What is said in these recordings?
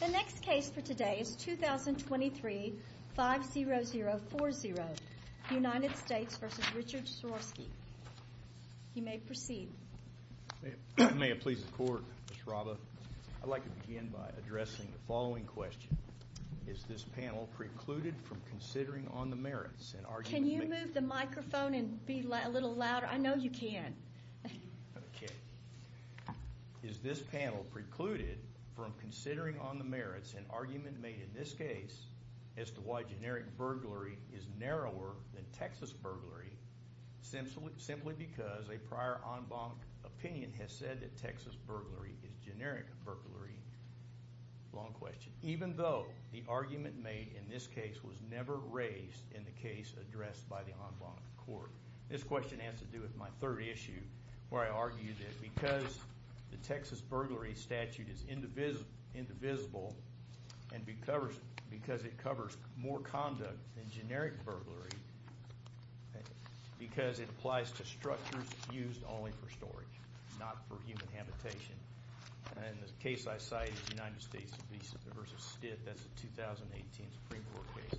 The next case for today is 2023-50040, United States v. Richard Schorovsky. You may proceed. May it please the Court, Ms. Raba, I'd like to begin by addressing the following question. Is this panel precluded from considering on the merits and argument? Can you move the microphone and be a little louder? I know you can. Is this panel precluded from considering on the merits an argument made in this case as to why generic burglary is narrower than Texas burglary simply because a prior en banc opinion has said that Texas burglary is generic burglary, even though the argument made in this case was never raised in the case addressed by the en banc court? This question has to do with my third issue, where I argued that because the Texas burglary statute is indivisible and because it covers more conduct than generic burglary, because it applies to structures used only for storage, not for human habitation, and the case I cite is United States v. Stitt, that's a 2018 Supreme Court case.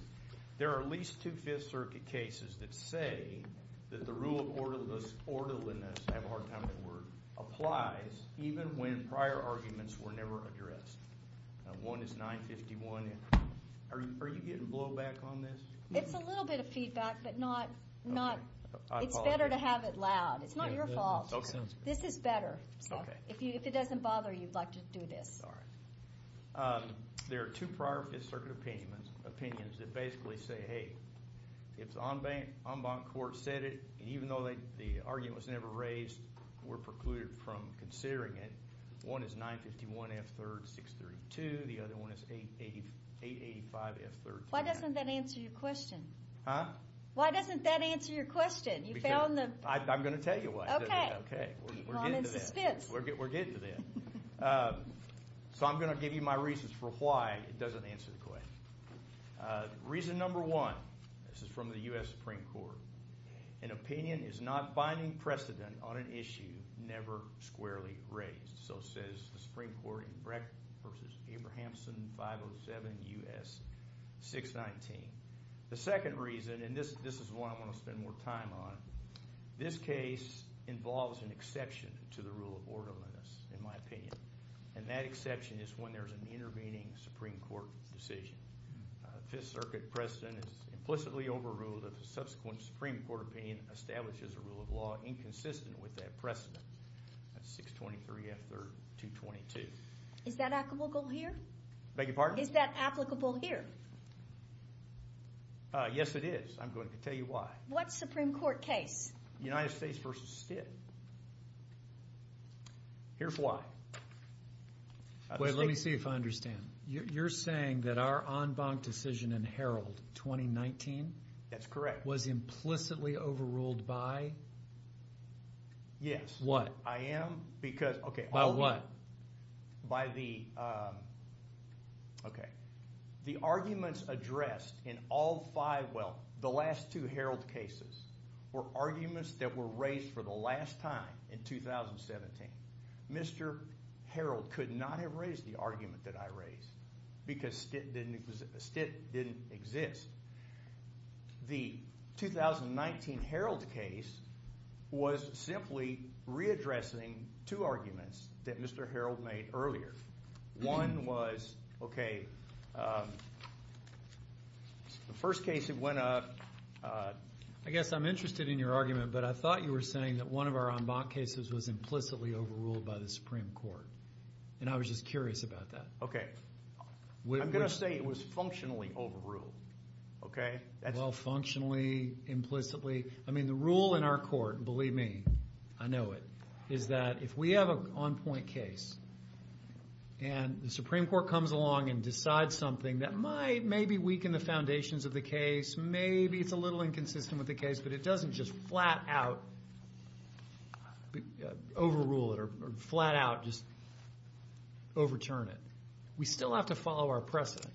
There are at least two Fifth Circuit cases that say that the rule of orderliness applies even when prior arguments were never addressed. One is 951. Are you getting blowback on this? It's a little bit of feedback, but it's better to have it loud. It's not your fault. This is better. If it doesn't bother you, I'd like to do this. There are two prior Fifth Circuit opinions that basically say, hey, if the en banc court said it, even though the argument was never raised, we're precluded from considering it. One is 951F3-632. The other one is 885F3-10. Why doesn't that answer your question? Huh? Why doesn't that answer your question? Because I'm going to tell you why. Okay. Okay. We're getting to that. Common suspense. We're getting to that. So I'm going to give you my reasons for why it doesn't answer the question. Reason number one, this is from the U.S. Supreme Court, an opinion is not binding precedent on an issue never squarely raised. So says the Supreme Court in Breck v. Abrahamson 507 U.S. 619. The second reason, and this is one I want to spend more time on, this case involves an exception to the rule of orderliness, in my opinion. And that exception is when there's an intervening Supreme Court decision. Fifth Circuit precedent is implicitly overruled if a subsequent Supreme Court opinion establishes a rule of law inconsistent with that precedent. That's 623F3-222. Is that applicable here? Beg your pardon? Is that applicable here? Yes, it is. I'm going to tell you why. What Supreme Court case? United States v. Stitt. Here's why. Wait, let me see if I understand. You're saying that our en banc decision in Herald 2019 was implicitly overruled by what? I am, because- By what? By the... Okay. The arguments addressed in all five... Well, the last two Herald cases were arguments that were raised for the last time in 2017. Mr. Herald could not have raised the argument that I raised, because Stitt didn't exist. The 2019 Herald case was simply readdressing two arguments that Mr. Herald made earlier. One was... Okay. The first case that went up- I guess I'm interested in your argument, but I thought you were saying that one of our en banc cases was implicitly overruled by the Supreme Court. I was just curious about that. Okay. I'm going to say it was functionally overruled. Okay? Well, functionally, implicitly. I mean, the rule in our court, and believe me, I know it, is that if we have an on-point case and the Supreme Court comes along and decides something that might maybe weaken the foundations of the case, maybe it's a little inconsistent with the case, but it doesn't just flat out overrule it or flat out just overturn it. We still have to follow our precedent,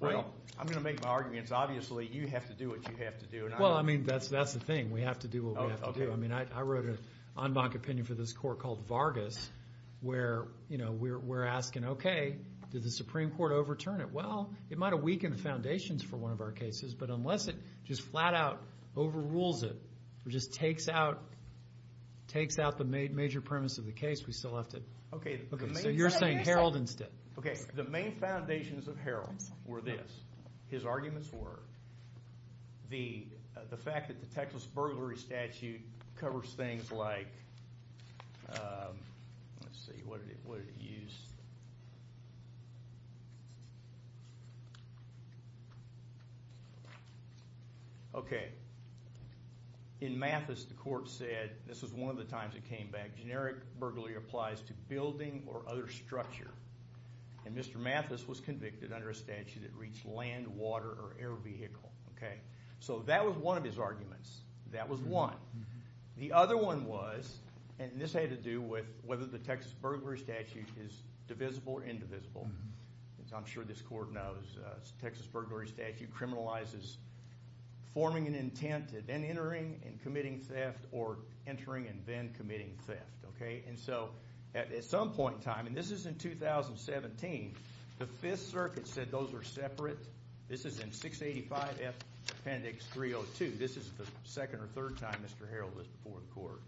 right? Well, I'm going to make my argument, it's obviously you have to do what you have to do. Well, I mean, that's the thing. We have to do what we have to do. Oh, okay. I mean, I wrote an en banc opinion for this court called Vargas where we're asking, okay, did the Supreme Court overturn it? Well, it might have weakened the foundations for one of our cases, but unless it just flat out overrules it or just takes out the major premise of the case, we still have to... Okay. So, you're saying Herald instead. Okay. The main foundations of Herald were this. His arguments were the fact that the Texas burglary statute covers things like... Let's see. What did it use? Okay. In Mathis, the court said, this is one of the times it came back, generic burglary applies to building or other structure. And Mr. Mathis was convicted under a statute that reached land, water, or air vehicle. Okay. So, that was one of his arguments. That was one. The other one was, and this had to do with whether the Texas burglary statute is divisible or indivisible. As I'm sure this court knows, the Texas burglary statute criminalizes forming an intent and then entering and committing theft or entering and then committing theft. Okay. And so, at some point in time, and this is in 2017, the 5th Circuit said those are separate. This is in 685 F Appendix 302. This is the second or third time Mr. Herald was before the court.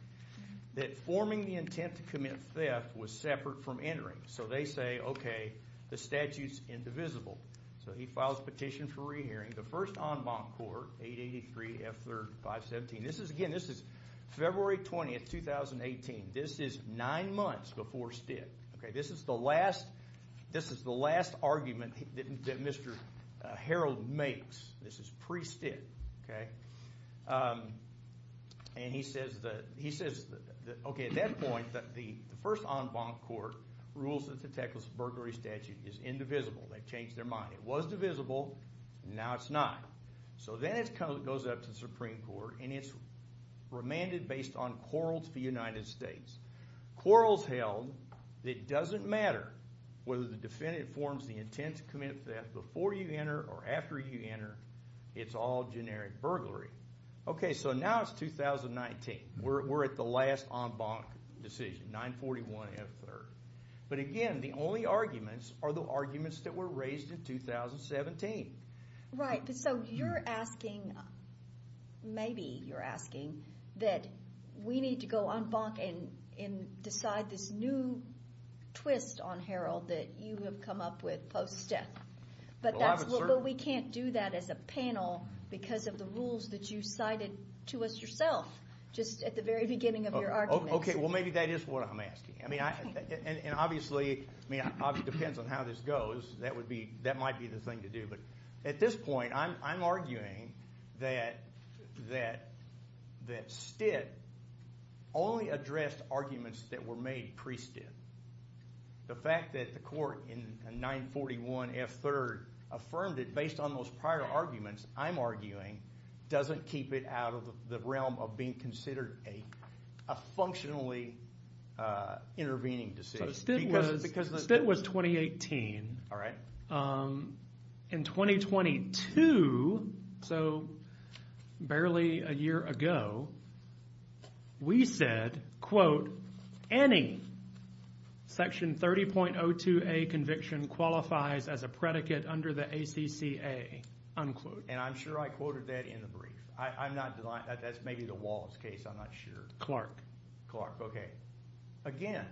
That forming the intent to commit theft was separate from entering. So, they say, okay, the statute's indivisible. So, he files petition for re-hearing. The first en banc court, 883 F 3rd 517. This is, again, this is February 20th, 2018. This is nine months before stint. This is the last argument that Mr. Herald makes. This is pre-stint. Okay. And he says, okay, at that point, the first en banc court rules that the Texas burglary statute is indivisible. They've changed their mind. It was divisible. Now, it's not. So, then it goes up to the Supreme Court, and it's remanded based on quarrels for the United States. Quarrels held, it doesn't matter whether the defendant forms the intent to commit theft before you enter or after you enter. It's all generic burglary. Okay. So, now it's 2019. We're at the last en banc decision, 941 F 3rd. But, again, the only arguments are the arguments that were raised in 2017. Right. But, so, you're asking, maybe you're asking, that we need to go en banc and decide this new twist on Herald that you have come up with post-death, but we can't do that as a panel because of the rules that you cited to us yourself just at the very beginning of your argument. Okay. Well, maybe that is what I'm asking. I mean, and obviously, I mean, obviously, it depends on how this goes. That would be, that might be the thing to do, but at this point, I'm arguing that Stitt only addressed arguments that were made pre-Stitt. The fact that the court in 941 F 3rd affirmed it based on those prior arguments, I'm arguing, doesn't keep it out of the realm of being considered a functionally intervening decision. So, Stitt was, Stitt was 2018, in 2022, so barely a year ago, we said, quote, any Section 30.02a conviction qualifies as a predicate under the ACCA, unquote. And I'm sure I quoted that in the brief. I'm not, that's maybe the Wallace case, I'm not sure. Clark. Clark, okay. Again,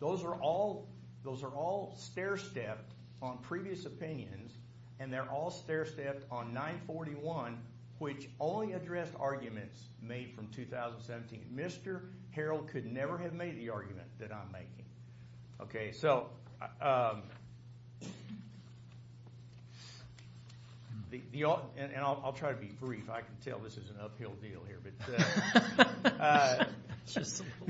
those are all, those are all stair-stepped on previous opinions, and they're all stair-stepped on 941, which only addressed arguments made from 2017. Mr. Harrell could never have made the argument that I'm making. Okay, so, and I'll try to be brief. I can tell this is an uphill deal here, but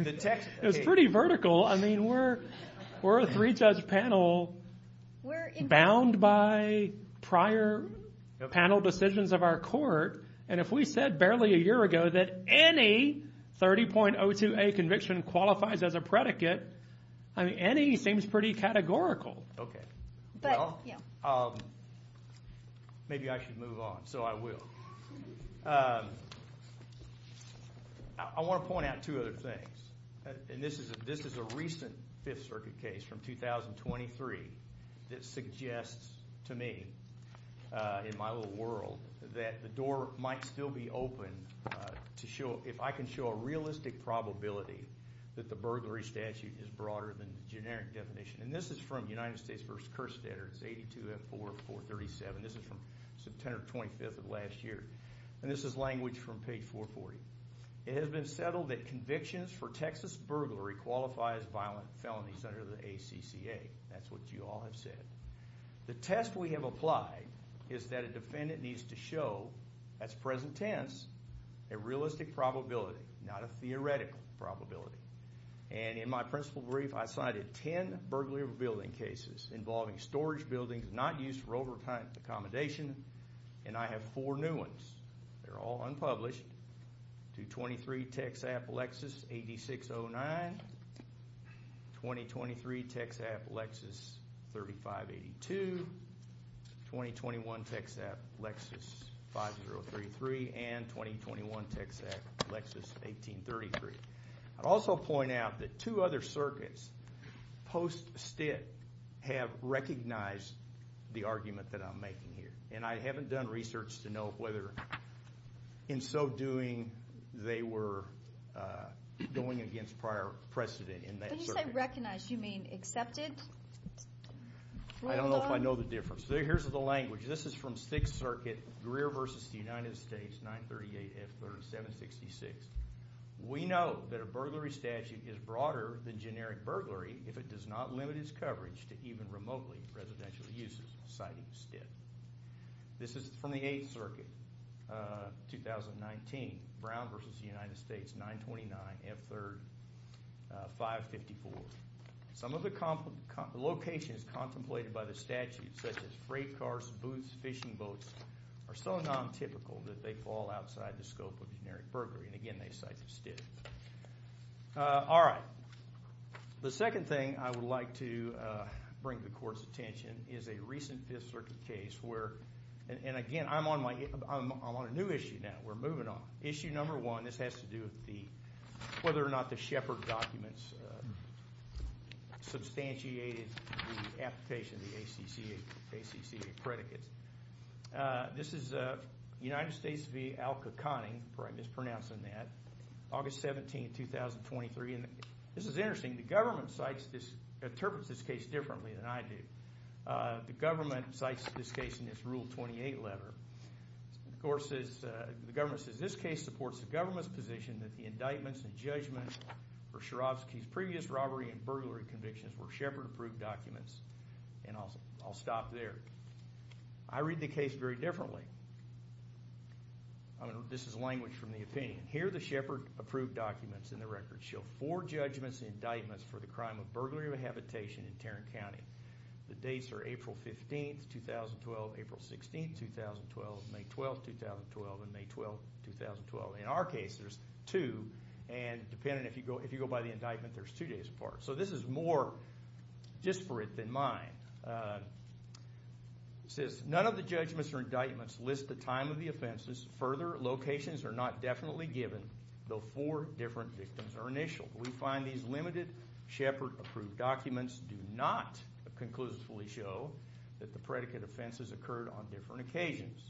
the text, okay. It's pretty vertical. I mean, we're, we're a three-judge panel bound by prior panel decisions of our court, and if we said barely a year ago that any 30.02a conviction qualifies as a predicate, I mean, any seems pretty categorical. Okay. Well, maybe I should move on, so I will. I want to point out two other things, and this is a, this is a recent Fifth Circuit case from 2023 that suggests to me, in my little world, that the door might still be open to show, if I can show a realistic probability that the burglary statute is broader than the generic definition, and this is from United States v. Kerstetter, it's 824437. This is from September 25th of last year, and this is language from page 440. It has been settled that convictions for Texas burglary qualify as violent felonies under the ACCA. That's what you all have said. The test we have applied is that a defendant needs to show, as present tense, a realistic probability, not a theoretical probability. And in my principal brief, I cited 10 burglary of a building cases involving storage buildings not used for over-accommodation, and I have four new ones. They're all unpublished. 223 Texap Alexis 8609, 2023 Texap Alexis 3582, 2021 Texap Lexus 5033, and 2021 Texap Lexus 1833. I'd also point out that two other circuits post-Stick have recognized the argument that I'm making here, and I haven't done research to know whether in so doing they were going against prior precedent in that circuit. When you say recognized, you mean accepted? I don't know if I know the difference. Here's the language. This is from Sixth Circuit, Greer v. United States, 938F3766. We note that a burglary statute is broader than generic burglary if it does not limit its coverage to even remotely residential uses, citing Sticks. This is from the Eighth Circuit, 2019, Brown v. United States, 929F3554. Some of the locations contemplated by the statute, such as freight cars, booths, fishing boats, are so non-typical that they fall outside the scope of generic burglary. And again, they cite the Sticks. All right. The second thing I would like to bring to the Court's attention is a recent Fifth Circuit case where, and again, I'm on a new issue now. We're moving on. Issue number one, this has to do with whether or not the Shepard documents substantiated the application of the ACCA predicates. This is United States v. Alka-Kanning. I'm mispronouncing that. August 17, 2023. This is interesting. The government interprets this case differently than I do. The government cites this case in its Rule 28 letter. Of course, the government says, this case supports the government's position that the indictments and judgments for Sharovsky's previous robbery and burglary convictions were Shepard-approved documents. And I'll stop there. I read the case very differently. This is language from the opinion. Here are the Shepard-approved documents in the record. Show four judgments and indictments for the crime of burglary of habitation in Tarrant County. The dates are April 15, 2012, April 16, 2012, May 12, 2012, and May 12, 2012. In our case, there's two. And depending if you go by the indictment, there's two days apart. So this is more disparate than mine. It says, none of the judgments or indictments list the time of the offenses. Further locations are not definitely given, though four different victims are initial. We find these limited Shepard-approved documents do not conclusively show that the predicate offenses occurred on different occasions.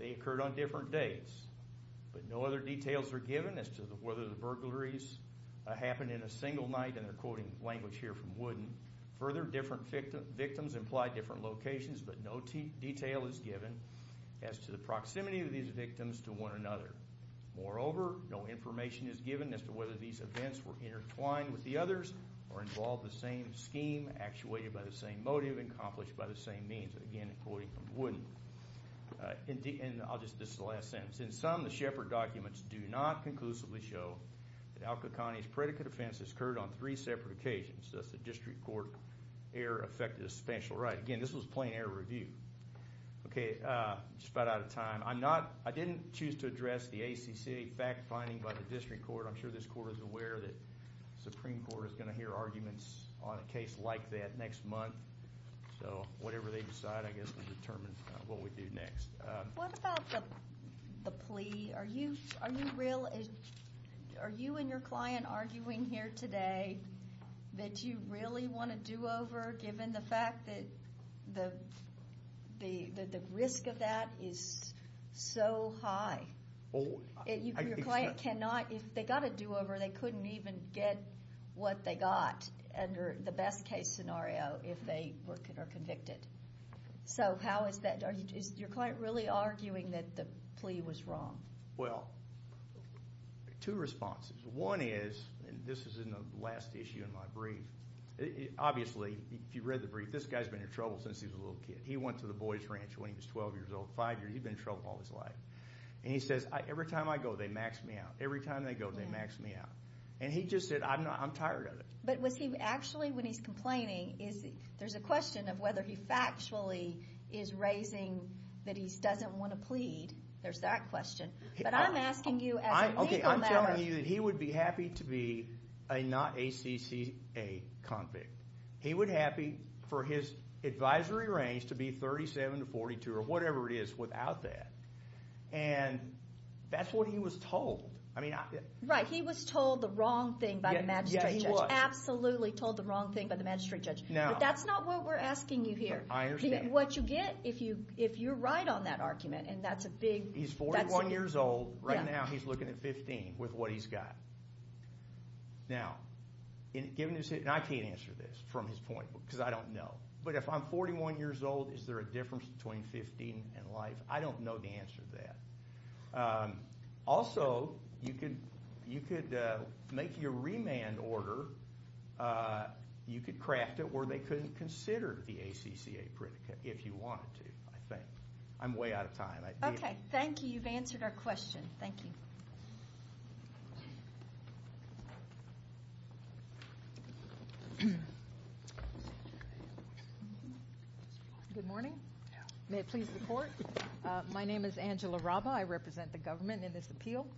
They occurred on different dates. But no other details are given as to whether the burglaries happened in a single night. And they're quoting language here from Wooden. Further, different victims imply different locations, but no detail is given as to the proximity of these victims to one another. Moreover, no information is given as to whether these events were intertwined with the others or involved the same scheme, actuated by the same motive, and accomplished by the same means. Again, quoting from Wooden. And I'll just, this is the last sentence. In sum, the Shepard documents do not conclusively show that Alka County's predicate offense occurred on three separate occasions, thus the district court error affected a special right. Again, this was plain error review. Okay, just about out of time. I'm not, I didn't choose to address the ACC fact-finding by the district court. I'm sure this court is aware that the Supreme Court is going to hear arguments on a case like that next month. So, whatever they decide, I guess, will determine what we do next. What about the plea? Are you real, are you and your client arguing here today that you really want a do-over, given the fact that the risk of that is so high? Your client cannot, if they got a do-over, they couldn't even get what they got, under the best case scenario, if they were convicted. So, how is that, is your client really arguing that the plea was wrong? Well, two responses. One is, and this is in the last issue in my brief, obviously, if you read the brief, this guy's been in trouble since he was a little kid. He went to the boys' ranch when he was 12 years old, 5 years, he's been in trouble all his life. And he says, every time I go, they max me out. Every time they go, they max me out. And he just said, I'm tired of it. But was he actually, when he's complaining, there's a question of whether he factually is raising that he doesn't want to plead. There's that question. But I'm asking you as a legal matter. I'm telling you that he would be happy to be a not-ACCA convict. He would be happy for his advisory range to be 37 to 42, or whatever it is, without that. And that's what he was told. Right, he was told the wrong thing by the magistrate judge. He was absolutely told the wrong thing by the magistrate judge. But that's not what we're asking you here. I understand. What you get if you're right on that argument, and that's a big... He's 41 years old. Right now, he's looking at 15 with what he's got. Now, given his, and I can't answer this from his point, because I don't know. But if I'm 41 years old, is there a difference between 15 and life? I don't know the answer to that. Also, you could make your remand order. You could craft it where they couldn't consider the ACCA predicate, if you wanted to, I think. I'm way out of time. Okay, thank you. You've answered our question. Thank you. Good morning. May it please the court. My name is Angela Raba. I represent the government in this appeal.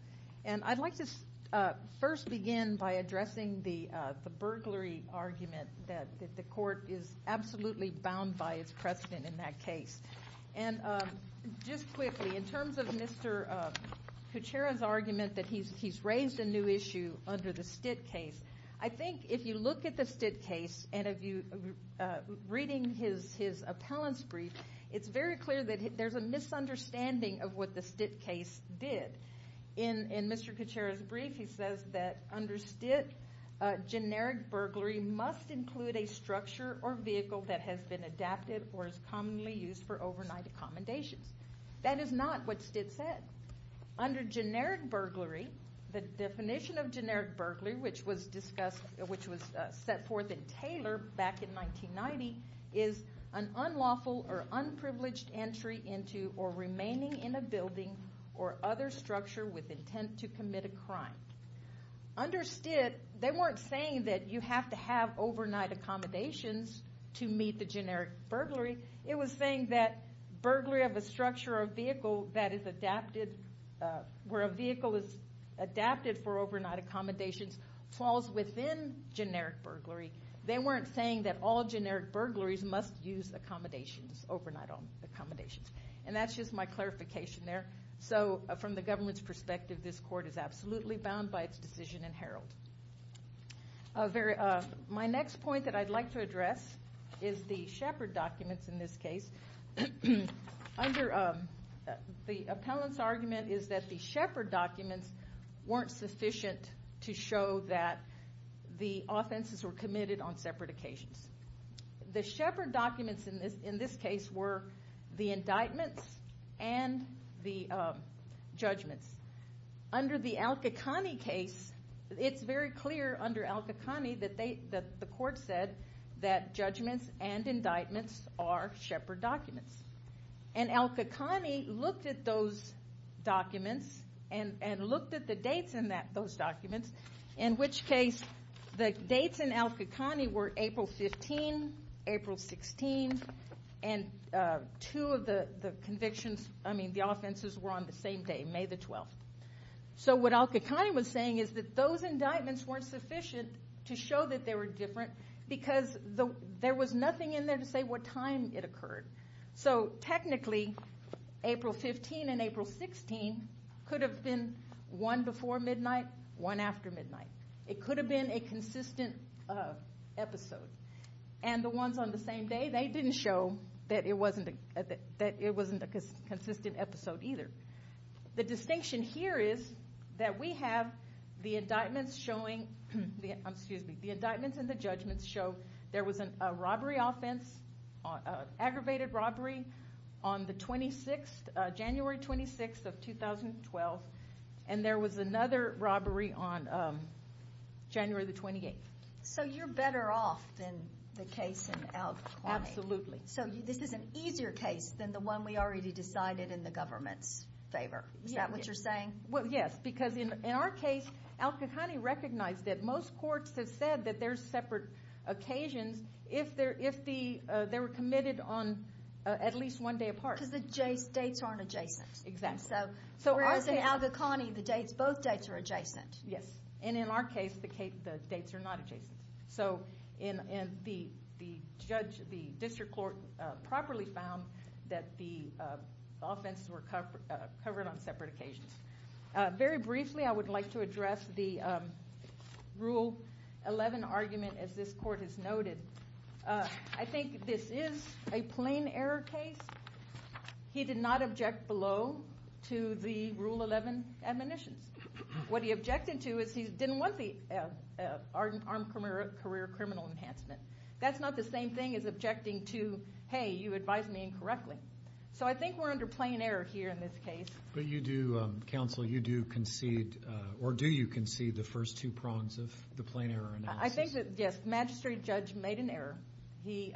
And I'd like to first begin by addressing the burglary argument that the court is absolutely bound by its precedent in that case. And just quickly, in terms of Mr. Kuchera's argument that he's raised a new issue under the Stitt case, I think if you look at the Stitt case, and if you're reading his appellant's brief, it's very clear that there's a misunderstanding of what the Stitt case did. In Mr. Kuchera's brief, he says that under Stitt, generic burglary must include a structure or vehicle that has been adapted or is commonly used for overnight accommodations. That is not what Stitt said. Under generic burglary, the definition of generic burglary, which was set forth in Taylor back in 1990, is an unlawful or unprivileged entry into or remaining in a building or other structure with intent to commit a crime. Under Stitt, they weren't saying that you have to have overnight accommodations to meet the generic burglary. It was saying that burglary of a structure or vehicle that is adapted, where a vehicle is adapted for overnight accommodations, falls within generic burglary. They weren't saying that all generic burglaries must use accommodations, overnight accommodations. That's just my clarification there. From the government's perspective, this court is absolutely bound by its decision in Herald. My next point that I'd like to address is the Shepard documents in this case. The appellant's argument is that the Shepard documents weren't sufficient to show that the offenses were committed on separate occasions. The Shepard documents in this case were the indictments and the judgments. Under the Al-Qaqani case, it's very clear under Al-Qaqani that the court said that judgments and indictments are Shepard documents. Al-Qaqani looked at those documents and looked at the dates in those documents, in which case the dates in Al-Qaqani were April 15, April 16, and two of the offenses were on the same day, May the 12th. What Al-Qaqani was saying is that those indictments weren't sufficient to show that they were different because there was nothing in there to say what time it occurred. Technically, April 15 and April 16 could have been one before midnight, one after midnight. It could have been a consistent episode. The ones on the same day, they didn't show that it wasn't a consistent episode either. The distinction here is that we have the indictments and the judgments show there was an aggravated robbery on January 26, 2012, and there was another robbery on January 28. You're better off than the case in Al-Qaqani. Absolutely. This is an easier case than the one we already decided in the government's favor. Is that what you're saying? Yes, because in our case, Al-Qaqani recognized that most courts have said that there's separate occasions if they were committed on at least one day apart. Because the dates aren't adjacent. Exactly. Whereas in Al-Qaqani, both dates are adjacent. Yes, and in our case, the dates are not adjacent. The district court properly found that the offenses were covered on separate occasions. Very briefly, I would like to address the Rule 11 argument as this court has noted. I think this is a plain error case. He did not object below to the Rule 11 admonitions. What he objected to is he didn't want the armed career criminal enhancement. That's not the same thing as objecting to, hey, you advised me incorrectly. So I think we're under plain error here in this case. But you do, counsel, you do concede, or do you concede the first two prongs of the plain error analysis? I think that, yes, magistrate judge made an error. He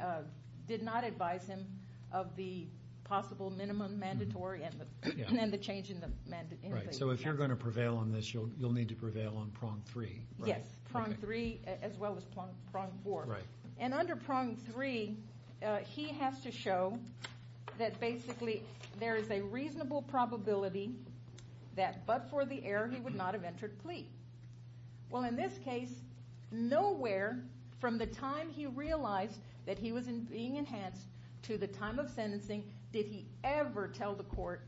did not advise him of the possible minimum mandatory and then the change in the mandate. So if you're going to prevail on this, you'll need to prevail on prong three, right? Yes, prong three as well as prong four. And under prong three, he has to show that basically there is a reasonable probability that but for the error, he would not have entered plea. Well, in this case, nowhere from the time he realized that he was being enhanced to the time of sentencing did he ever tell the court,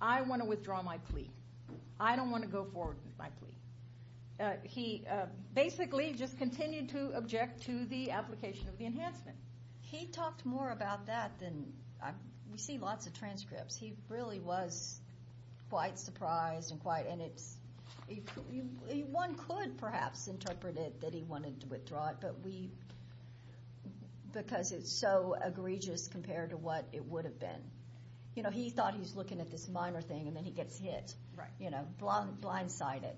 I want to withdraw my plea. I don't want to go forward with my plea. He basically just continued to object to the application of the enhancement. He talked more about that than, we see lots of transcripts. He really was quite surprised and quite, and it's, one could perhaps interpret it that he wanted to withdraw it. But we, because it's so egregious compared to what it would have been. You know, he thought he was looking at this minor thing and then he gets hit. Right. You know, blindsided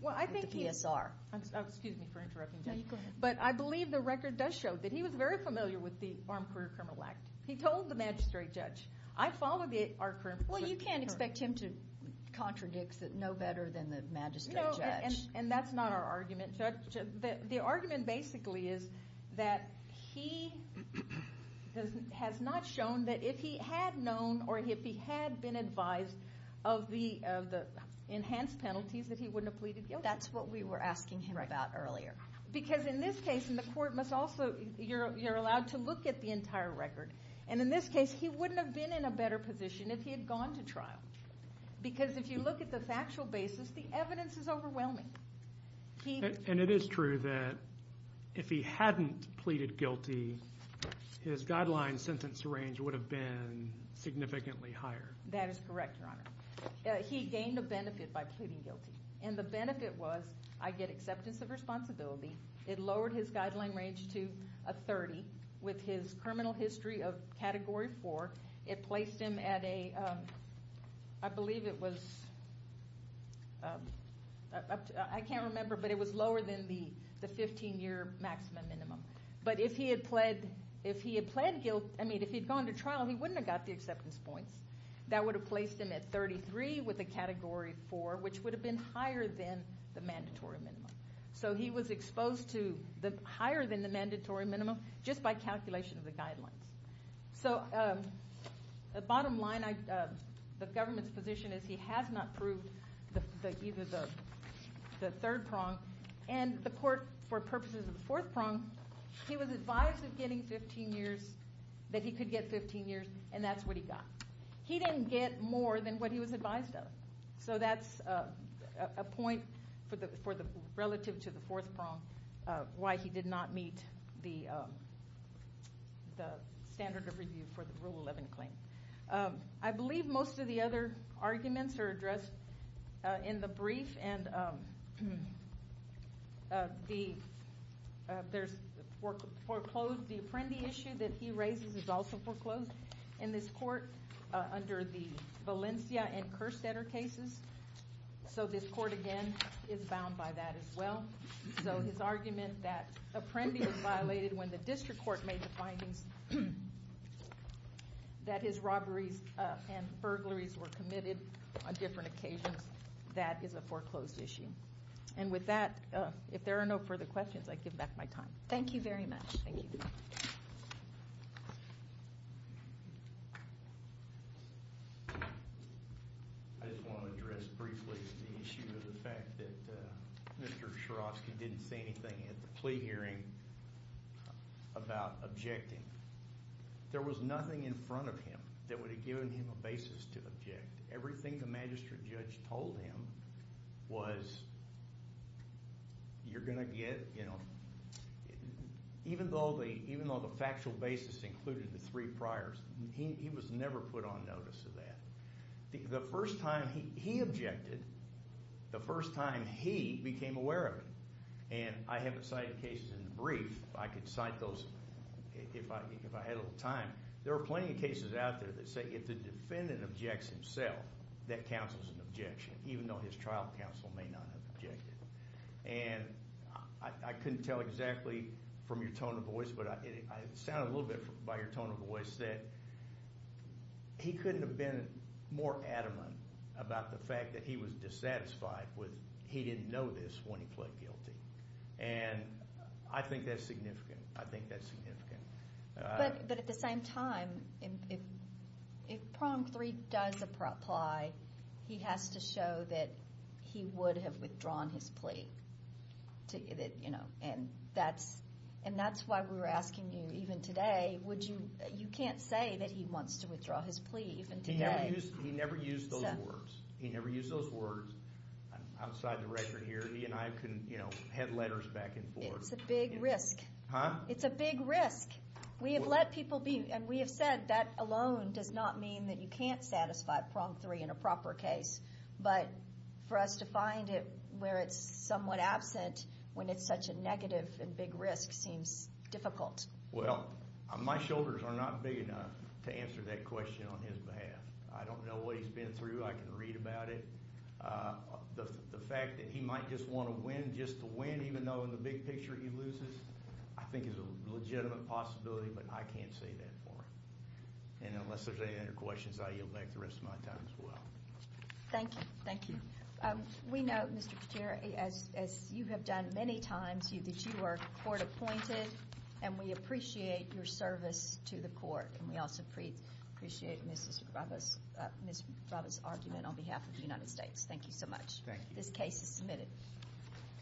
with the PSR. Excuse me for interrupting, Judge. No, you go ahead. But I believe the record does show that he was very familiar with the Armed Career Criminal Act. He told the magistrate judge, I follow the Armed Career Criminal Act. Well, you can't expect him to contradict no better than the magistrate judge. And that's not our argument, Judge. The argument basically is that he has not shown that if he had known or if he had been advised of the enhanced penalties that he wouldn't have pleaded guilty. That's what we were asking him about earlier. Because in this case, and the court must also, you're allowed to look at the entire record. And in this case, he wouldn't have been in a better position if he had gone to trial. Because if you look at the factual basis, the evidence is overwhelming. And it is true that if he hadn't pleaded guilty, his guideline sentence range would have been significantly higher. That is correct, Your Honor. He gained a benefit by pleading guilty. And the benefit was, I get acceptance of responsibility. It lowered his guideline range to a 30 with his criminal history of Category 4. It placed him at a, I believe it was, I can't remember, but it was lower than the 15-year maximum minimum. But if he had pled guilt, I mean, if he had gone to trial, he wouldn't have got the acceptance points. That would have placed him at 33 with a Category 4, which would have been higher than the mandatory minimum. So he was exposed to higher than the mandatory minimum just by calculation of the guidelines. So the bottom line, the government's position is he has not proved either the third prong. And the court, for purposes of the fourth prong, he was advised of getting 15 years, that he could get 15 years. And that's what he got. He didn't get more than what he was advised of. So that's a point relative to the fourth prong, why he did not meet the standard of review for the Rule 11 claim. I believe most of the other arguments are addressed in the brief. And there's foreclosed, the Apprendi issue that he raises is also foreclosed in this court under the Valencia and Kerstetter cases. So this court, again, is bound by that as well. So his argument that Apprendi was violated when the district court made the findings that his robberies and burglaries were committed on different occasions, that is a foreclosed issue. And with that, if there are no further questions, I give back my time. Thank you very much. Thank you. Thank you. I just want to address briefly the issue of the fact that Mr. Sharofsky didn't say anything at the plea hearing about objecting. There was nothing in front of him that would have given him a basis to object. Everything the magistrate judge told him was, you're going to get, you know, even though the factual basis included the three priors, he was never put on notice of that. The first time he objected, the first time he became aware of it. And I haven't cited cases in the brief. I could cite those if I had a little time. There are plenty of cases out there that say if the defendant objects himself, that counts as an objection, even though his trial counsel may not have objected. And I couldn't tell exactly from your tone of voice, but it sounded a little bit by your tone of voice, that he couldn't have been more adamant about the fact that he was dissatisfied with, he didn't know this when he pled guilty. And I think that's significant. I think that's significant. But at the same time, if Prompt 3 does apply, he has to show that he would have withdrawn his plea. You know, and that's why we were asking you even today, you can't say that he wants to withdraw his plea even today. He never used those words. He never used those words outside the record here. He and I couldn't, you know, head letters back and forth. It's a big risk. It's a big risk. We have let people be, and we have said that alone does not mean that you can't satisfy Prompt 3 in a proper case. But for us to find it where it's somewhat absent, when it's such a negative and big risk, seems difficult. Well, my shoulders are not big enough to answer that question on his behalf. I don't know what he's been through. I can read about it. The fact that he might just want to win just to win, even though in the big picture he loses, I think is a legitimate possibility, but I can't say that for him. And unless there's any other questions, I yield back the rest of my time as well. Thank you. Thank you. We know, Mr. Katara, as you have done many times, that you are court-appointed, and we appreciate your service to the court. And we also appreciate Ms. Brava's argument on behalf of the United States. Thank you so much. This case is submitted.